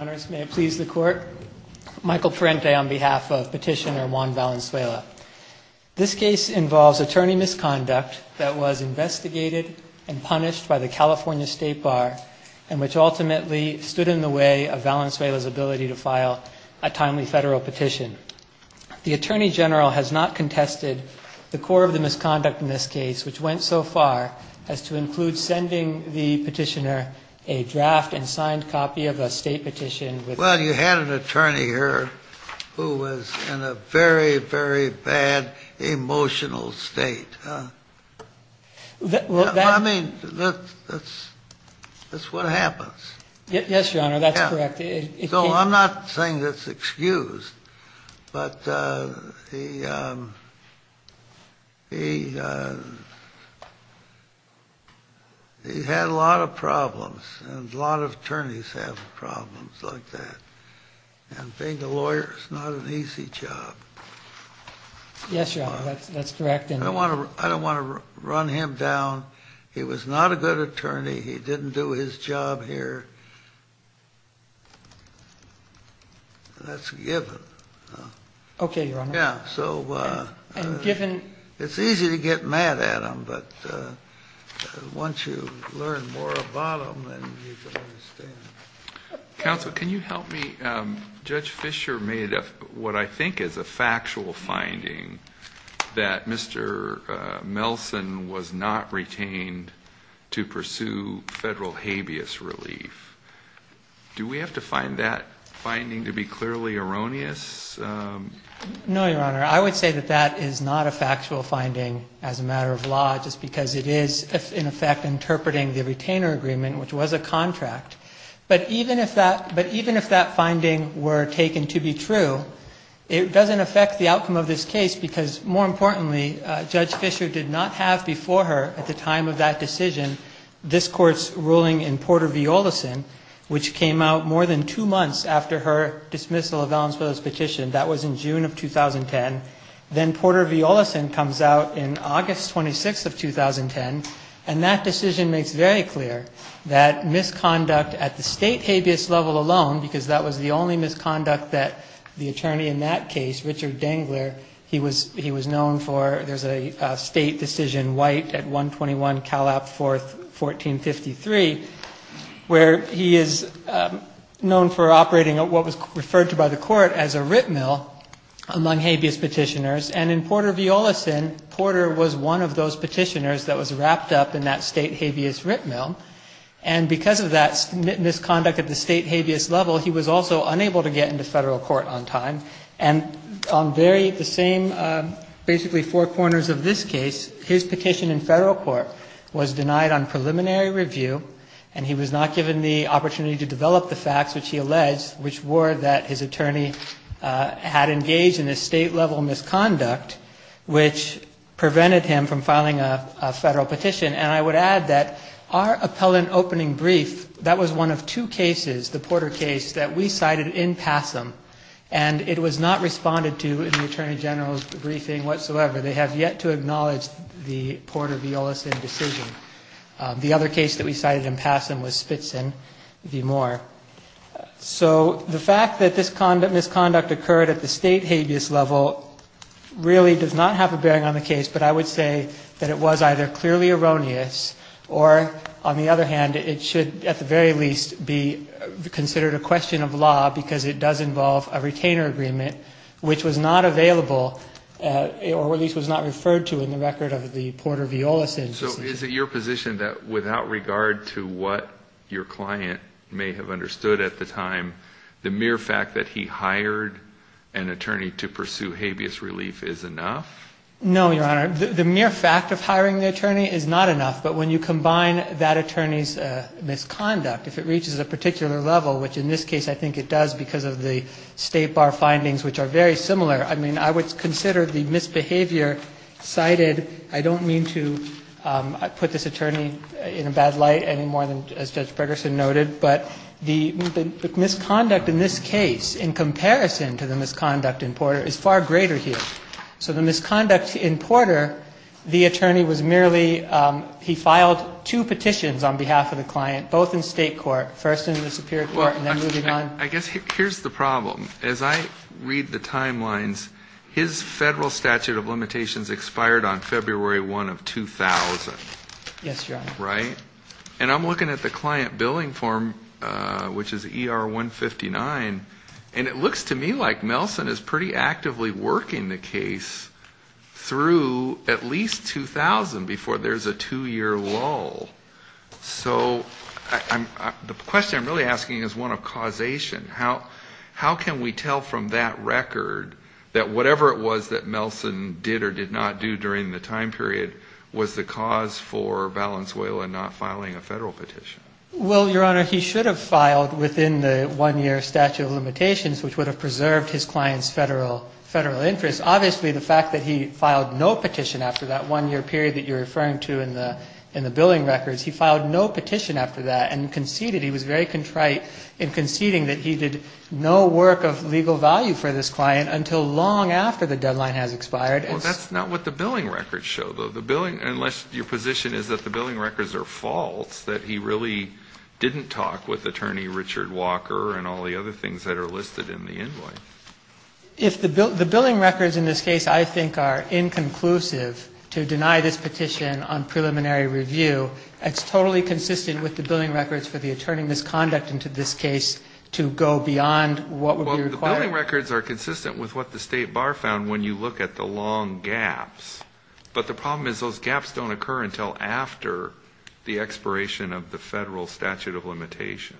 Honors, may it please the Court. Michael Parente on behalf of Petitioner Juan Valenzuela. This case involves attorney misconduct that was investigated and punished by the California State Bar and which ultimately stood in the way of Valenzuela's ability to file a timely federal petition. The Attorney General has not contested the core of the misconduct in this case, which went so far as to include sending the petitioner a draft and signed copy of a state petition. Well, you had an attorney here who was in a very, very bad emotional state. I mean, that's what happens. Yes, Your Honor, that's correct. So I'm not saying that's excused, but he had a lot of problems, and a lot of attorneys have problems like that. And being a lawyer is not an easy job. Yes, Your Honor, that's correct. I don't want to run him down. He was not a good attorney. He didn't do his job here. He was not a good attorney. That's a given. Okay, Your Honor. Yes, so it's easy to get mad at him, but once you learn more about him, then you can understand. Counsel, can you help me? Judge Fisher made a, what I think is a factual finding, that Mr. Melson was not retained to pursue federal habeas relief. Do we have to find that finding to be clearly erroneous? No, Your Honor. I would say that that is not a factual finding as a matter of law, just because it is, in effect, interpreting the retainer agreement, which was a contract. But even if that finding were taken to be true, it doesn't affect the outcome of this case, because more importantly, Judge Fisher did not have before her, at the time of that decision, this Court's ruling in Porter v. Olison, which came out more than two months after her dismissal of Ellensmith's petition. That was in June of 2010. Then Porter v. Olison comes out in August 26th of 2010, and that decision makes very clear that misconduct at the state habeas level alone, because that was the only misconduct that the attorney in that case, Richard Dangler, he was known for, there's a state decision, White at 121 Calap 4th, 1453, where he is known for operating what was referred to by the Court as a writ mill among habeas petitioners. And in Porter v. Olison, Porter was one of those petitioners that was wrapped up in that state habeas writ mill. And because of that misconduct at the state habeas level, he was also unable to develop the facts, which he alleged, which were that his attorney had engaged in a state level misconduct, which prevented him from filing a federal petition. And I would add that our appellant opening brief, that was one of two cases, the Porter case, that we cited in PASM, and it was not responded to in the Attorney General's briefing whatsoever. They have yet to acknowledge the Porter v. Olison decision. The other case that we cited in PASM was Spitzen v. Moore. So the fact that this misconduct occurred at the state habeas level really does not have a bearing on the case, but I would say that it was either clearly erroneous or, on the other hand, it should at the very least be considered a question of law, because it does involve a retainer agreement, which was not available, or at least was not referred to in the record of the Porter v. Olison decision. So is it your position that without regard to what your client may have understood at the time, the mere fact that he hired an attorney to pursue habeas relief is enough? No, Your Honor. The mere fact of hiring the attorney is not enough. But when you combine that attorney's misconduct, if it reaches a particular level, which in this case I think it does because of the State Bar findings, which are very similar, I mean, I would consider the misbehavior cited, I don't mean to put this attorney in a bad light any more than as Judge Bergersen noted, but the misconduct in this case, in comparison to the misconduct in Porter, is far greater here. So the misconduct in Porter, the attorney was merely, he filed two petitions on behalf of the client, both in State court, first in the Superior Court, and then moving on. I guess here's the problem. As I read the timelines, his federal statute of limitations expired on February 1 of 2000. Yes, Your Honor. Right? And I'm looking at the client billing form, which is ER 159, and it looks to me like Melson is pretty actively working the case through at least 2000 before there's a two-year lull. So the question I'm really asking is one of causation. How can we tell from that record that whatever it was that Melson did or did not do during the time period was the cause for Valenzuela not filing a federal petition? Well, Your Honor, he should have filed within the one-year statute of limitations, which would have preserved his client's federal interest. Obviously, the fact that he filed no petition after that one-year period that you're referring to in the billing records, he filed no petition after that and conceded, he was very contrite in conceding that he did no work of legal value for this client until long after the deadline has expired. Well, that's not what the billing records show, though. The billing, unless your position is that the billing records are false, that he really didn't talk with attorney Richard Walker and all the other things that are listed in the invoice. If the billing records in this case I think are inconclusive to deny this petition on preliminary review, it's totally consistent with the billing records for the attorney misconduct into this case to go beyond what would be required? Well, the billing records are consistent with what the State Bar found when you look at the long gaps. But the problem is those gaps don't occur until after the expiration of the federal statute of limitation.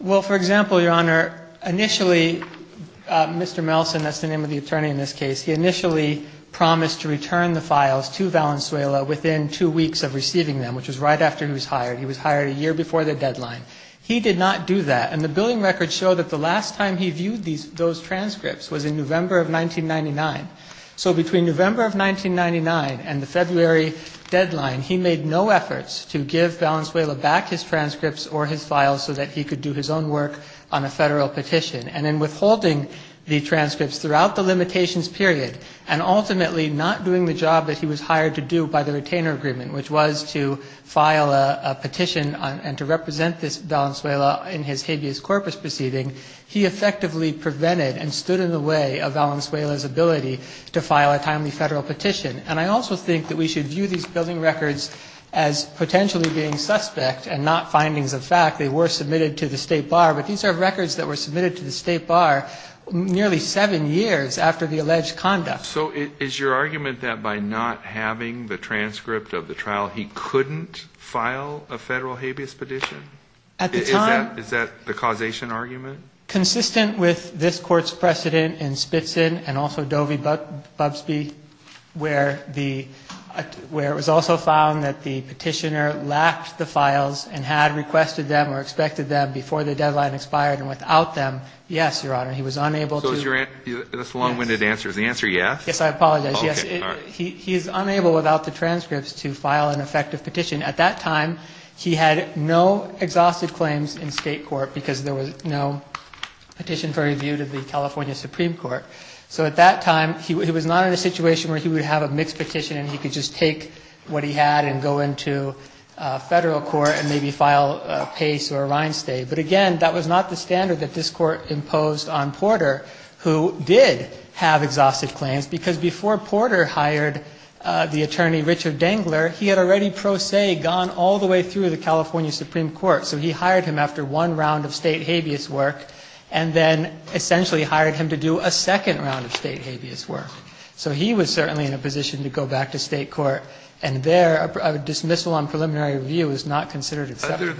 Well, for example, Your Honor, initially, Mr. Melson, that's the name of the attorney in this case, he initially promised to return the files to Valenzuela within two weeks of receiving them, which was right after he was hired. He was hired a year before the deadline. He did not do that. And the billing records show that the last time he viewed those transcripts was in November of 1999. So between November of 1999 and the February deadline, he made no efforts to give Valenzuela back his transcripts or his files so that he could do his own work on a federal petition. And in withholding the transcripts throughout the limitations period and ultimately not doing the job that he was hired to do by the retainer agreement, which was to file a petition and to represent Valenzuela in his habeas corpus proceeding, he effectively prevented and stood in the way of Valenzuela's ability to file a timely federal petition. And I also think that we should view these billing records as potentially being suspect and not findings of fact. They were submitted to the State Bar, but these are records that were submitted to the State Bar nearly seven years after the alleged conduct. So is your argument that by not having the transcript of the trial, he couldn't file a federal habeas petition? At the time... Is that the causation argument? Consistent with this Court's precedent in Spitzin and also Dovey-Bubbsby, where it was also found that the petitioner lacked the files and had requested them or expected them before the deadline expired and without them, yes, Your Honor, he was unable to... So is your answer, this long-winded answer, is the answer yes? Yes, I apologize. Yes, he is unable without the transcripts to file an effective petition. At that time, he had no exhausted claims in state court because there was no petition for review to the California Supreme Court. So at that time, he was not in a situation where he would have a mixed petition and he could just take what he had and go into federal court and maybe file a Pace or a Reinstate. But again, that was not the standard that this Court imposed on Porter, who did have exhausted claims, because before Porter hired the attorney Richard Dangler, he had already pro se gone all the way through the California Supreme Court. So he hired him after one round of state habeas work and then essentially hired him to do a second round of state habeas work. So he was certainly in a position to go back to state court. And there, a dismissal on preliminary review is not considered acceptable.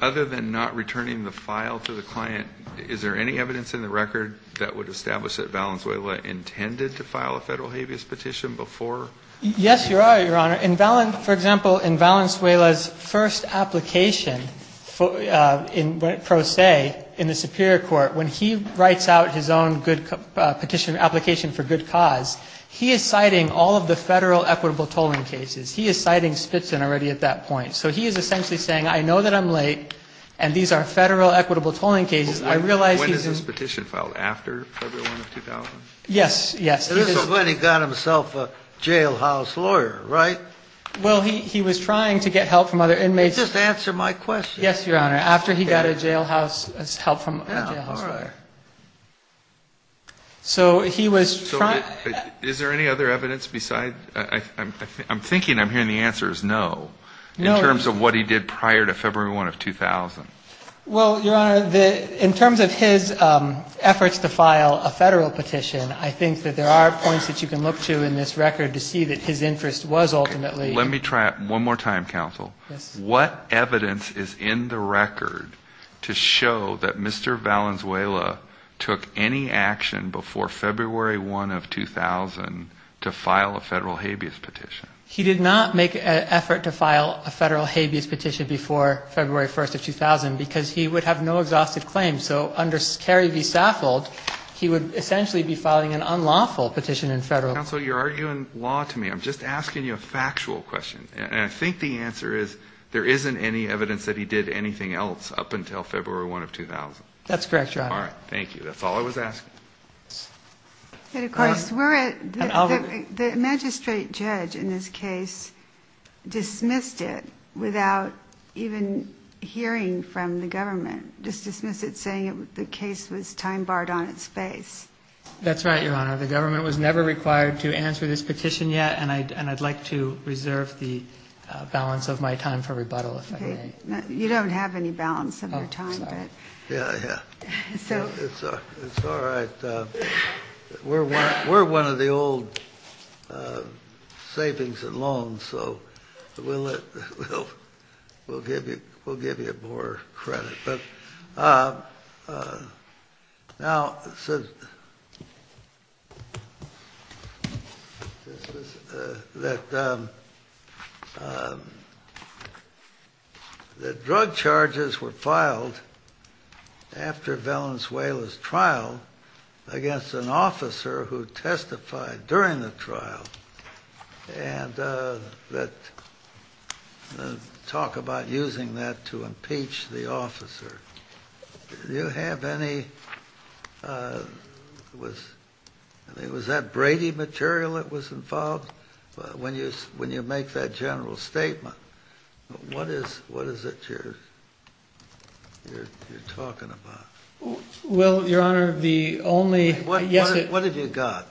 Other than not returning the file to the client, is there any evidence in the record that would establish that Valenzuela intended to file a federal habeas petition before... Yes, Your Honor. For example, in Valenzuela's first application, pro se, in the Superior Court, when he writes out his own petition application for good cause, he is citing all of the federal equitable tolling cases. He is citing Spitzin already at that point. So he is essentially saying, I know that I'm late and these are federal equitable tolling cases. When is this petition filed? After February 1 of 2000? Yes, yes. This is when he got himself a jailhouse lawyer, right? Well, he was trying to get help from other inmates. Just answer my question. Yes, Your Honor. After he got a jailhouse, help from a jailhouse lawyer. All right. So he was trying... So is there any other evidence besides? I'm thinking I'm hearing the answer is no. No. In terms of what he did prior to February 1 of 2000. Well, Your Honor, in terms of his efforts to file a federal petition, I think that there are points that you can look to in this record to see that his interest was ultimately... Let me try it one more time, counsel. Yes. What evidence is in the record to show that Mr. Valenzuela took any action before February 1 of 2000 to file a federal habeas petition? He did not make an effort to file a federal habeas petition before February 1 of 2000 because he would have no exhaustive claim. So under Carey v. Saffold, he would essentially be filing an unlawful petition in federal... Counsel, you're arguing law to me. I'm just asking you a factual question. And I think the answer is there isn't any evidence that he did anything else up until February 1 of 2000. That's correct, Your Honor. All right. Thank you. That's all I was asking. And of course, the magistrate judge in this case dismissed it without even hearing from the government. Just dismissed it saying the case was time-barred on its face. That's right, Your Honor. The government was never required to answer this petition yet, and I'd like to reserve the balance of my time for rebuttal, if I may. You don't have any balance of your time, but... Oh, sorry. Yeah, yeah. It's all right. We're one of the old savings and loans, so we'll give you more credit. Now, that drug charges were filed after Valenzuela's trial against an officer who testified during the trial, and talk about using that to impeach the officer. Do you have any... Was that Brady material that was involved? When you make that general statement, what is it you're talking about? Well, Your Honor, the only... What have you got?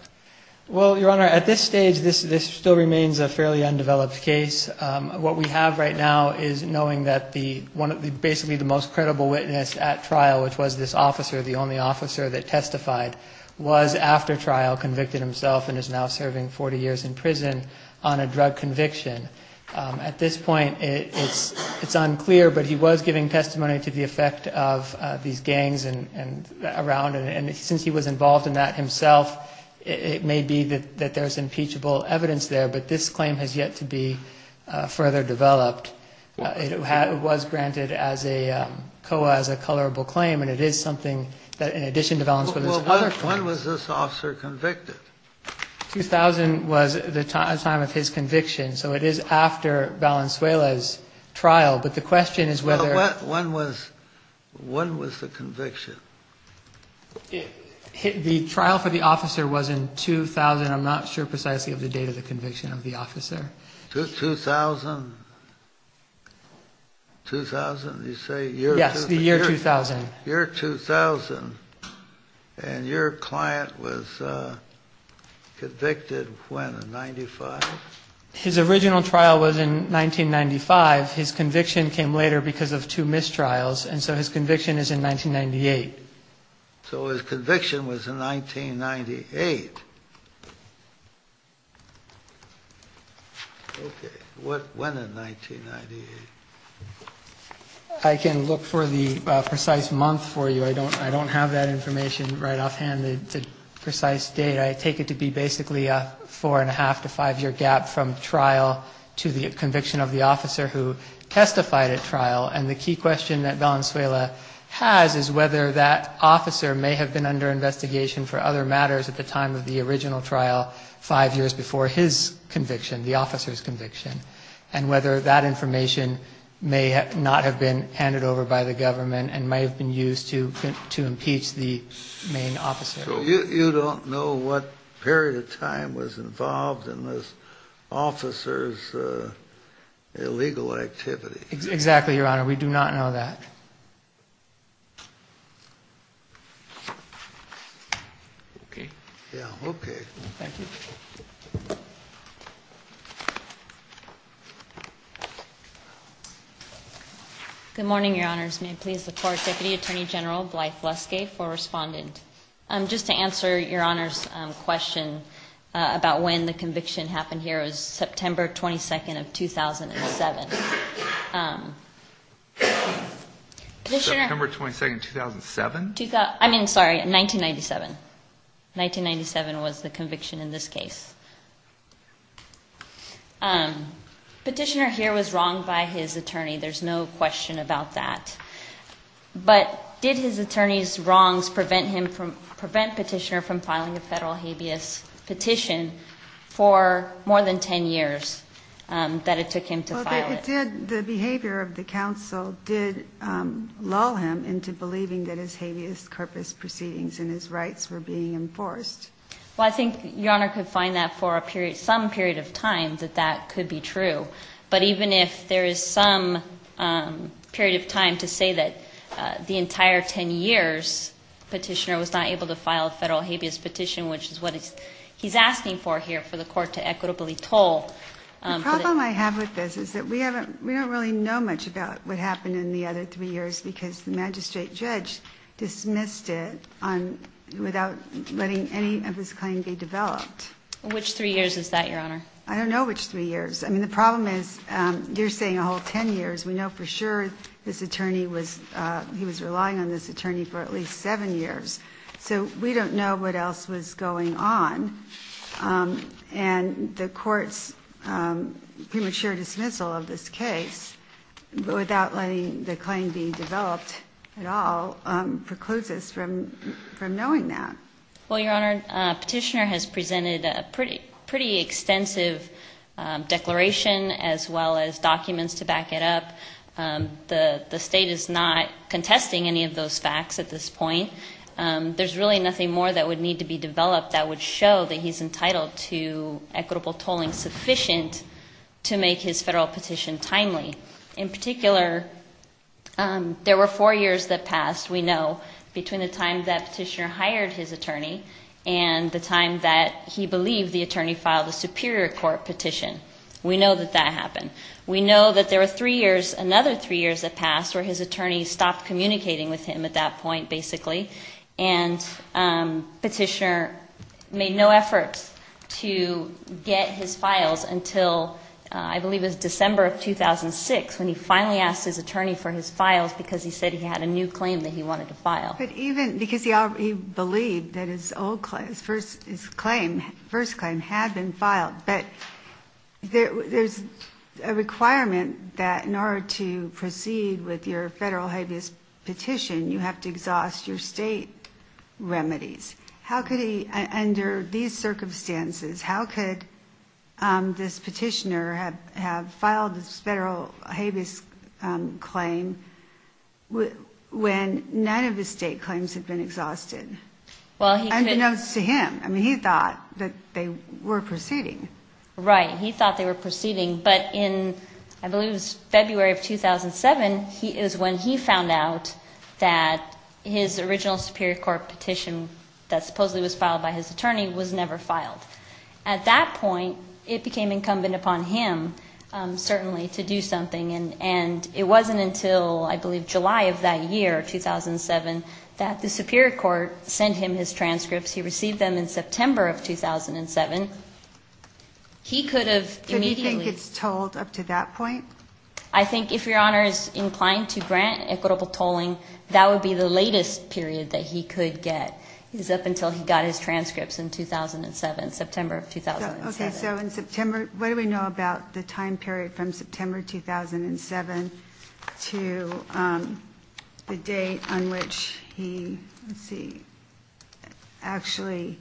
Well, Your Honor, at this stage, this still remains a fairly undeveloped case. What we have right now is knowing that basically the most credible witness at trial, which was this officer, the only officer that testified, was after trial, convicted himself, and is now serving 40 years in prison on a drug conviction. At this point, it's unclear, but he was giving testimony to the effect of these gangs around, and since he was involved in that himself, it may be that there's impeachable evidence there, but this claim has yet to be further developed. It was granted as a COA, as a colorable claim, and it is something that, in addition to Valenzuela's other claims... Well, when was this officer convicted? 2000 was the time of his conviction, so it is after Valenzuela's trial, but the question is whether... When was the conviction? The trial for the officer was in 2000. I'm not sure precisely of the date of the conviction of the officer. 2000? 2000, you say? Yes, the year 2000. Year 2000. And your client was convicted when? In 95? His original trial was in 1995. His conviction came later because of two mistrials, and so his conviction is in 1998. So his conviction was in 1998. Okay. When in 1998? I can look for the precise month for you. I don't have that information right offhand, the precise date. I take it to be basically a four-and-a-half to five-year gap from trial to the conviction of the officer who testified at trial, and the key question that Valenzuela has is whether that officer may have been under investigation for other matters at the time of the original trial, five years before his conviction, the officer's conviction, and whether that information may not have been handed over by the government and may have been used to impeach the main officer. So you don't know what period of time was involved in this officer's illegal activities? Exactly, Your Honor. We do not know that. Okay. Yeah, okay. Thank you. Good morning, Your Honors. May I please look for Deputy Attorney General Blythe Luskay for respondent. Just to answer Your Honor's question about when the conviction happened here, it was September 22nd of 2007. September 22nd, 2007? I mean, sorry, 1997. 1997 was the conviction in this case. Petitioner here was wronged by his attorney. There's no question about that. But did his attorney's wrongs prevent Petitioner from filing a federal habeas petition for more than 10 years that it took him to file it? Well, the behavior of the counsel did lull him into believing that his habeas corpus proceedings and his rights were being enforced. Well, I think Your Honor could find that for some period of time that that could be true. But even if there is some period of time to say that the entire 10 years Petitioner was not able to file a federal habeas petition, which is what he's asking for here for the court to equitably toll. The problem I have with this is that we don't really know much about what happened in the other three years because the magistrate judge dismissed it without letting any of his claim be developed. Which three years is that, Your Honor? I don't know which three years. I mean, the problem is you're saying a whole 10 years. We know for sure he was relying on this attorney for at least seven years. So we don't know what else was going on. And the court's premature dismissal of this case without letting the claim be developed at all precludes us from knowing that. Well, Your Honor, Petitioner has presented a pretty extensive declaration as well as documents to back it up. The state is not contesting any of those facts at this point. There's really nothing more that would need to be developed that would show that he's entitled to equitable tolling sufficient to make his federal petition timely. In particular, there were four years that passed, we know, between the time that Petitioner hired his attorney and the time that he believed the attorney filed a superior court petition. We know that that happened. We know that there were three years, another three years that passed where his attorney stopped communicating with him at that point, basically. And Petitioner made no efforts to get his files until I believe it was December of 2006 when he finally asked his attorney for his files because he said he had a new claim that he wanted to file. But even because he believed that his old claim, his first claim, had been filed, but there's a requirement that in order to proceed with your federal hiatus petition, you have to exhaust your state remedies. How could he, under these circumstances, how could this Petitioner have filed this federal habeas claim when none of his state claims had been exhausted? Unbeknownst to him. I mean, he thought that they were proceeding. Right. He thought they were proceeding. But in, I believe it was February of 2007, is when he found out that his original superior court petition that supposedly was filed by his attorney was never filed. At that point, it became incumbent upon him, certainly, to do something. And it wasn't until, I believe, July of that year, 2007, that the superior court sent him his transcripts. He received them in September of 2007. He could have immediately... Do you think it's tolled up to that point? I think if Your Honor is inclined to grant equitable tolling, that would be the latest period that he could get. He's up until he got his transcripts in 2007, September of 2007. Okay, so in September... What do we know about the time period from September 2007 to the date on which he... Let's see. Actually,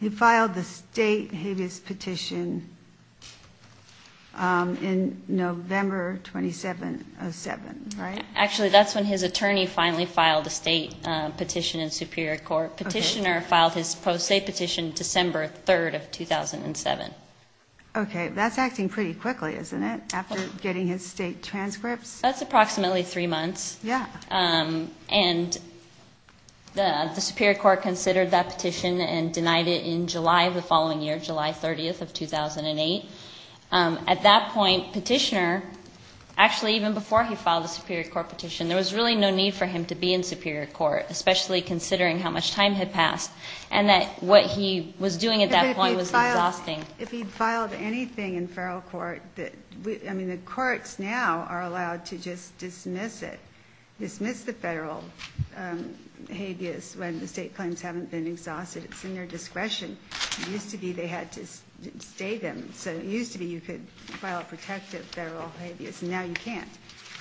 he filed the state habeas petition in November 2707, right? Actually, that's when his attorney finally filed the state petition in superior court. Petitioner filed his post-state petition December 3rd of 2007. Okay, that's acting pretty quickly, isn't it, after getting his state transcripts? That's approximately three months. And the superior court considered that petition and denied it in July of the following year, July 30th of 2008. At that point, petitioner... In the superior court, especially considering how much time had passed and that what he was doing at that point was exhausting. If he filed anything in federal court... I mean, the courts now are allowed to just dismiss it, dismiss the federal habeas when the state claims haven't been exhausted. It's in their discretion. It used to be they had to stay them. So it used to be you could file a protective federal habeas and now you can't.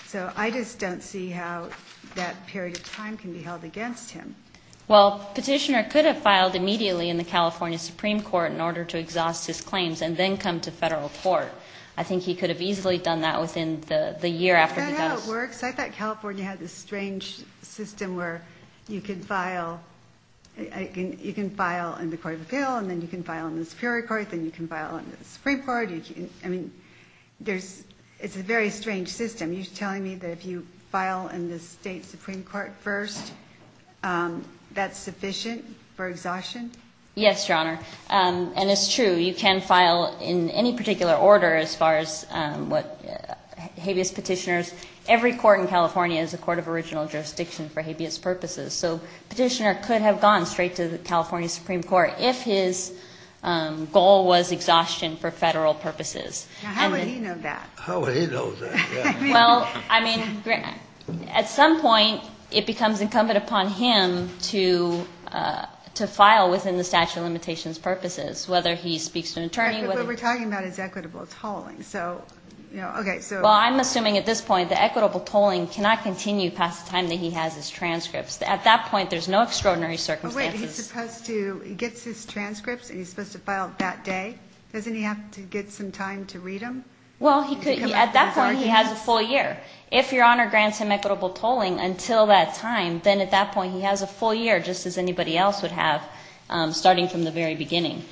So I just don't see how that period of time can be held against him. Well, petitioner could have filed immediately in the California Supreme Court in order to exhaust his claims and then come to federal court. I think he could have easily done that within the year after he got his... Is that how it works? I thought California had this strange system where you can file in the court of appeal and then you can file in the superior court, then you can file in the Supreme Court. It's a very strange system. You're telling me that if you file in the state Supreme Court first that's sufficient for exhaustion? Yes, Your Honor. And it's true, you can file in any particular order as far as habeas petitioners. Every court in California is a court of original jurisdiction for habeas purposes. So petitioner could have gone straight to the California Supreme Court if his goal was exhaustion for federal purposes. How would he know that? At some point it becomes incumbent upon him to file within the statute of limitations purposes whether he speaks to an attorney... But what we're talking about is equitable tolling. Well, I'm assuming at this point the equitable tolling cannot continue past the time that he has his transcripts. At that point there's no extraordinary circumstances. Wait, he gets his transcripts and he's supposed to file that day? Doesn't he have to get some time to read them? Well, at that point he has a full year. If Your Honor grants him equitable tolling until that time then at that point he has a full year just as anybody else would have starting from the very beginning.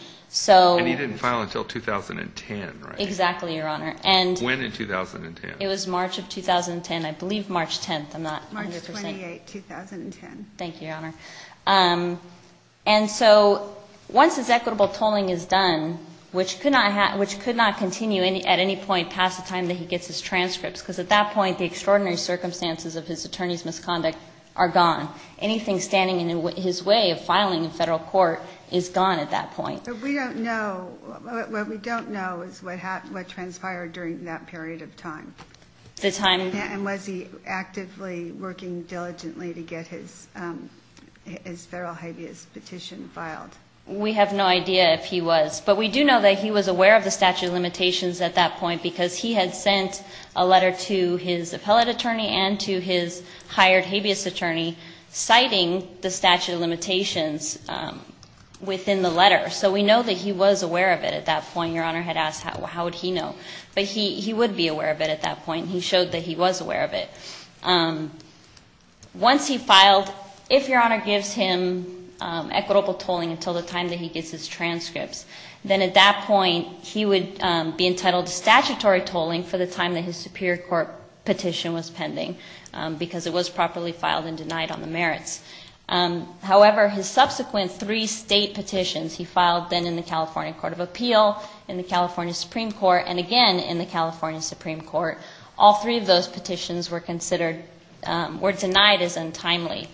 And he didn't file until 2010, right? Exactly, Your Honor. When in 2010? It was March of 2010, I believe March 10th. March 28th, 2010. Thank you, Your Honor. And so once his equitable tolling is done which could not continue at any point past the time that he gets his transcripts because at that point the extraordinary circumstances of his attorney's misconduct are gone. Anything standing in his way of filing in federal court is gone at that point. We don't know. What we don't know is what transpired during that period of time. And was he actively working diligently to get his federal habeas petition filed? We have no idea if he was. But we do know that he was aware of the statute of limitations at that point because he had sent a letter to his appellate attorney and to his hired habeas attorney citing the statute of limitations within the letter. So we know that he was aware of it at that point. Your Honor had asked how would he know? But he would be aware of it at that point. He showed that he was aware of it. Once he filed, if Your Honor gives him equitable tolling until the time that he gets his transcripts then at that point he would be entitled to statutory tolling for the time that his superior court petition was pending because it was properly filed and denied on the merits. However, his subsequent three state petitions he filed then in the California Court of Appeal in the California Supreme Court and again in the California Supreme Court all three of those petitions were denied as untimely.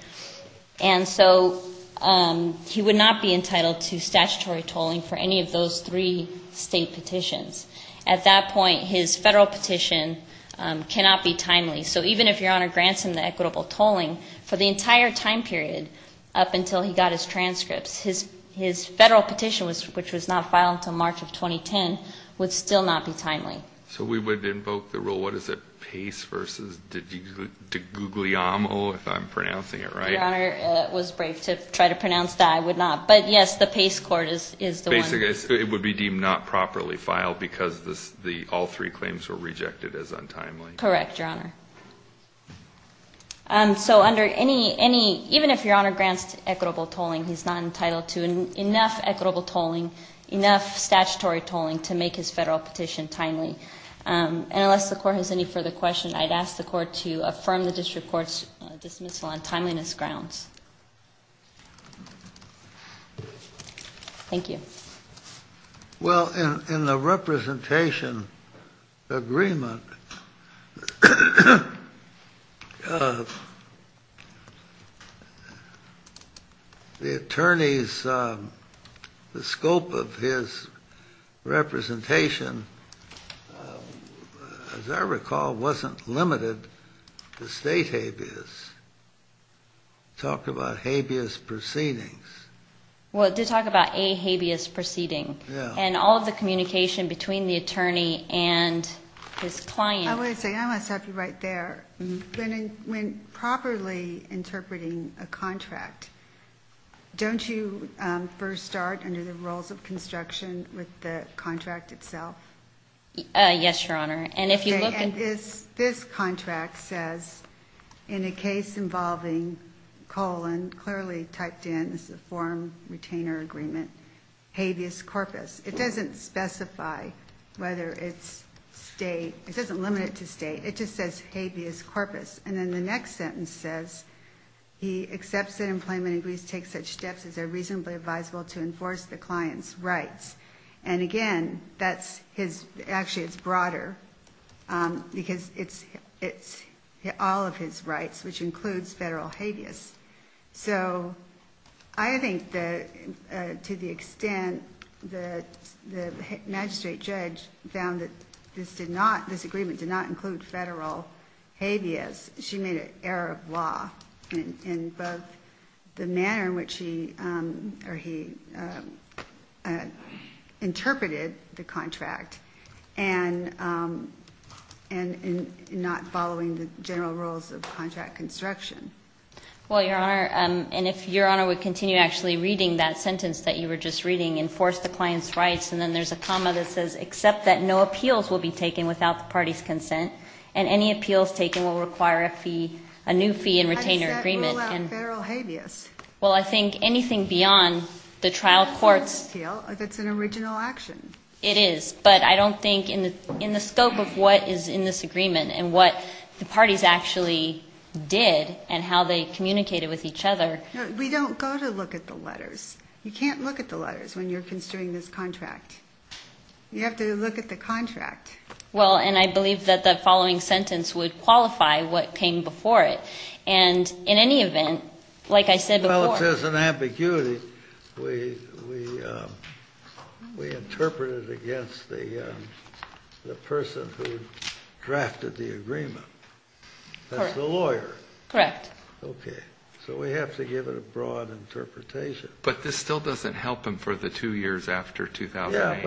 And so he would not be entitled to statutory tolling for any of those three state petitions. At that point his federal petition cannot be timely. So even if Your Honor grants him the equitable tolling for the entire time period up until he got his transcripts his federal petition, which was not filed until March of 2010 would still not be timely. So we would invoke the rule, what is it? Pace versus Degugliamo if I'm pronouncing it right? Your Honor was brave to try to pronounce that. I would not. But yes, the Pace court is the one. It would be deemed not properly filed because all three claims were rejected as untimely. Correct, Your Honor. So even if Your Honor grants equitable tolling he's not entitled to enough equitable tolling enough statutory tolling to make his federal petition timely. And unless the Court has any further questions I'd ask the Court to affirm the District Court's dismissal on timeliness grounds. Thank you. Well, in the representation agreement the attorneys the scope of his representation the scope of his representation the scope of his representation as I recall wasn't limited to state habeas. talked about habeas proceedings. Well, it did talk about a habeas proceedings and all of the communication between the attorney and his client. I want to stop you right there. When properly interpreting a contract don't you first start under the rules of construction with the contract itself? Yes, Your Honor. This contract says in a case involving colon clearly typed in as a form retainer agreement habeas corpus. It doesn't specify whether it's state it doesn't limit it to state it just says habeas corpus. And then the next sentence says he accepts that employment agrees to take such steps as are reasonably advisable to enforce the client's rights. And again, actually it's broader because it's all of his rights which includes federal habeas. So I think that to the extent that the magistrate judge found that this agreement did not include federal habeas she made an error of law in both the manner in which he interpreted the contract and in not following the general rules of contract construction. Well, Your Honor and if Your Honor would continue actually reading that sentence that you were just reading enforce the client's rights and then there's a comma that says accept that no appeals will be taken without the party's consent and any appeals taken will require a new fee and retainer agreement. Well, I think anything beyond the trial courts it is but I don't think in the scope of what is in this agreement and what the parties actually did and how they communicated with each other we don't go to look at the letters you can't look at the letters when you're construing this contract you have to look at the contract. Well, and I believe that the following sentence would qualify what came before it and in any event like I said before Well, it says in ambiguity we interpreted it against the person who drafted the agreement that's the lawyer. Correct. Okay, so we have to give it a broad interpretation. But this still doesn't help him for the two years after 2008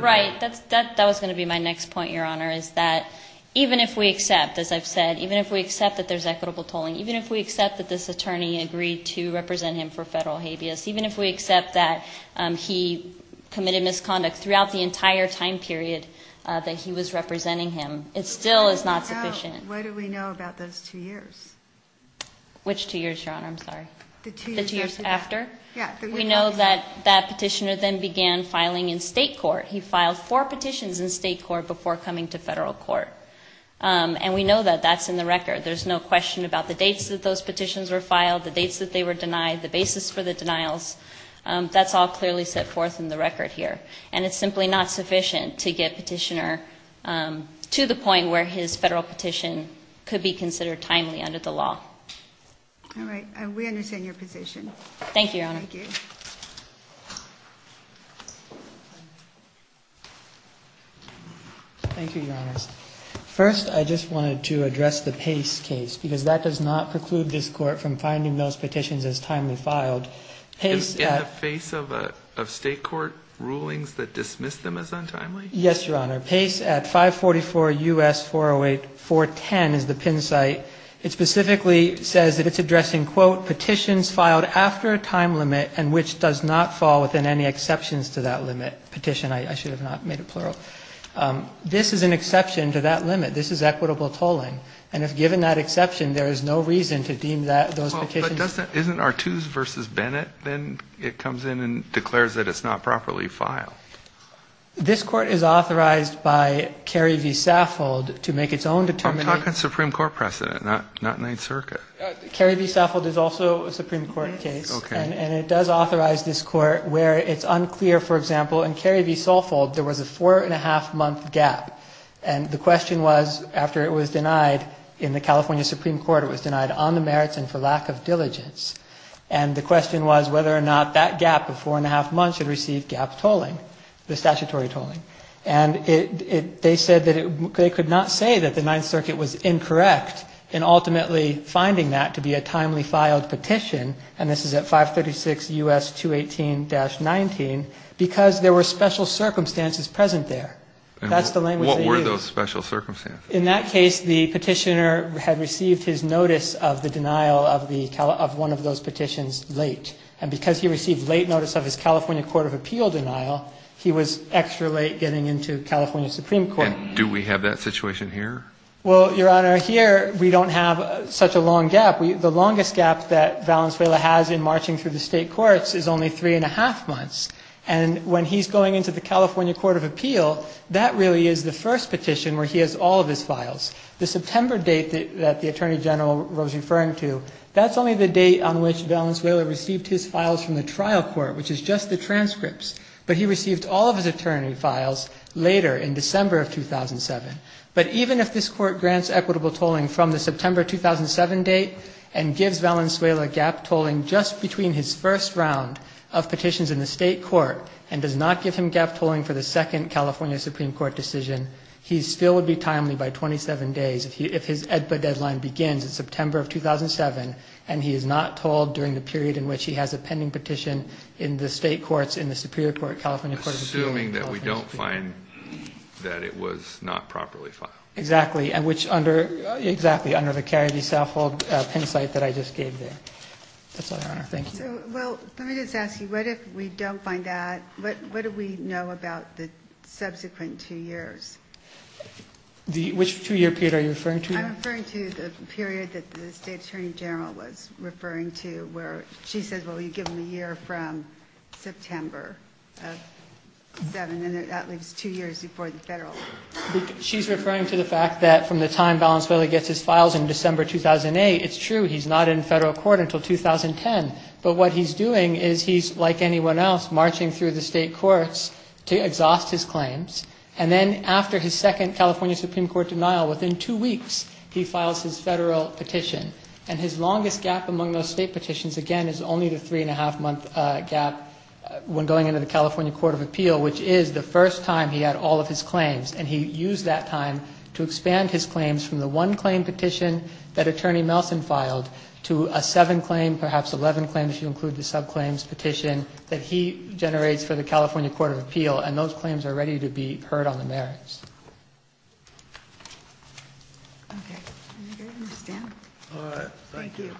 Right, that was going to be my next point, Your Honor is that even if we accept, as I've said even if we accept that there's equitable tolling even if we accept that this attorney agreed to represent him for federal habeas even if we accept that he committed misconduct throughout the entire time period that he was representing him it still is not sufficient. What do we know about those two years? Which two years, Your Honor? I'm sorry. The two years after? We know that that petitioner then began filing in state court he filed four petitions in state court before coming to federal court and we know that that's in the record there's no question about the dates that those petitions were filed the dates that they were denied, the basis for the denials that's all clearly set forth in the record here and it's simply not sufficient to get petitioner to the point where his federal petition could be considered timely under the law. All right. We understand your position. Thank you, Your Honor. Thank you, Your Honor. First, I just wanted to address the Pace case because that does not preclude this Court from finding those petitions as timely filed In the face of state court rulings that dismiss them as untimely? Yes, Your Honor. Pace at 544 U.S. 408 410 is the PIN site. It specifically says that it's addressing quote, petitions filed after a time limit and which does not fall within any exceptions to that limit petition. I should have not made it plural. This is an exception to that limit. This is equitable tolling and if given that exception, there is no reason to deem that those petitions... Well, but doesn't, isn't Artuse v. Bennett then it comes in and declares that it's not properly filed? This Court is authorized by Carrie v. Saffold to make its own determination... I'm talking Supreme Court precedent, not Ninth Circuit. Carrie v. Saffold is also a Supreme Court case and it does authorize this Court where it's unclear, for example, in Carrie v. Saffold there was a four and a half month gap and the question was, after it was denied in the California Supreme Court it was denied on the merits and for lack of diligence and the question was whether or not that gap of four and a half months should receive gap tolling, the statutory tolling and they said that they could not say that the Ninth Circuit was incorrect in ultimately finding that to be a timely filed petition and this is at 536 U.S. 218-19 because there were special circumstances present there. What were those special circumstances? In that case, the petitioner had received his notice of the denial of one of those petitions late and because he received late notice of his California Court of Appeal denial he was extra late getting into California Supreme Court. And do we have that situation here? Well, Your Honor, here we don't have such a long gap. The longest gap that Valenzuela has in marching through the State Courts is only three and a half months and when he's going into the California Court of Appeal that really is the first petition where he has all of his files. The September date that the Attorney General was referring to that's only the date on which Valenzuela received his files from the trial court, which is just the transcripts but he received all of his attorney files later in December of 2007. But even if this Court grants equitable tolling from the September 2007 date and gives Valenzuela gap tolling just between his first round of petitions in the State Court and does not give him gap tolling for the second California Supreme Court decision he still would be timely by 27 days if his EDPA deadline begins in September of 2007 and he is not tolled during the period in which he has a pending petition in the State Courts, in the Superior Court, California Court of Appeal Assuming that we don't find that it was not properly filed. Exactly. Exactly, under the Cary v. Southhold pen site that I just gave there. That's all, Your Honor. Thank you. Well, let me just ask you, what if we don't find that? What do we know about the subsequent two years? Which two-year period are you referring to? I'm referring to the period that the State Attorney General was referring to where she said, well, you give him a year from September of 2007 and that leaves two years before the Federal Court. She's referring to the fact that from the time Valenzuela gets his files in December 2008, it's true, he's not in Federal Court until 2010. But what he's doing is he's, like anyone else, marching through the State Courts to exhaust his claims and then after his second California Supreme Court denial, within two weeks, he files his Federal petition. And his longest gap among those State petitions, again, is only the three-and-a-half-month gap when going into the California Court of Appeal, which is the first time he had all of his claims. And he used that time to expand his claims from the one claim petition that Attorney Nelson filed to a seven-claim, perhaps eleven-claim, if you include the sub-claims petition that he generates for the California Court of Appeal. And those are his claims. Okay. I think I understand. All right. Thank you.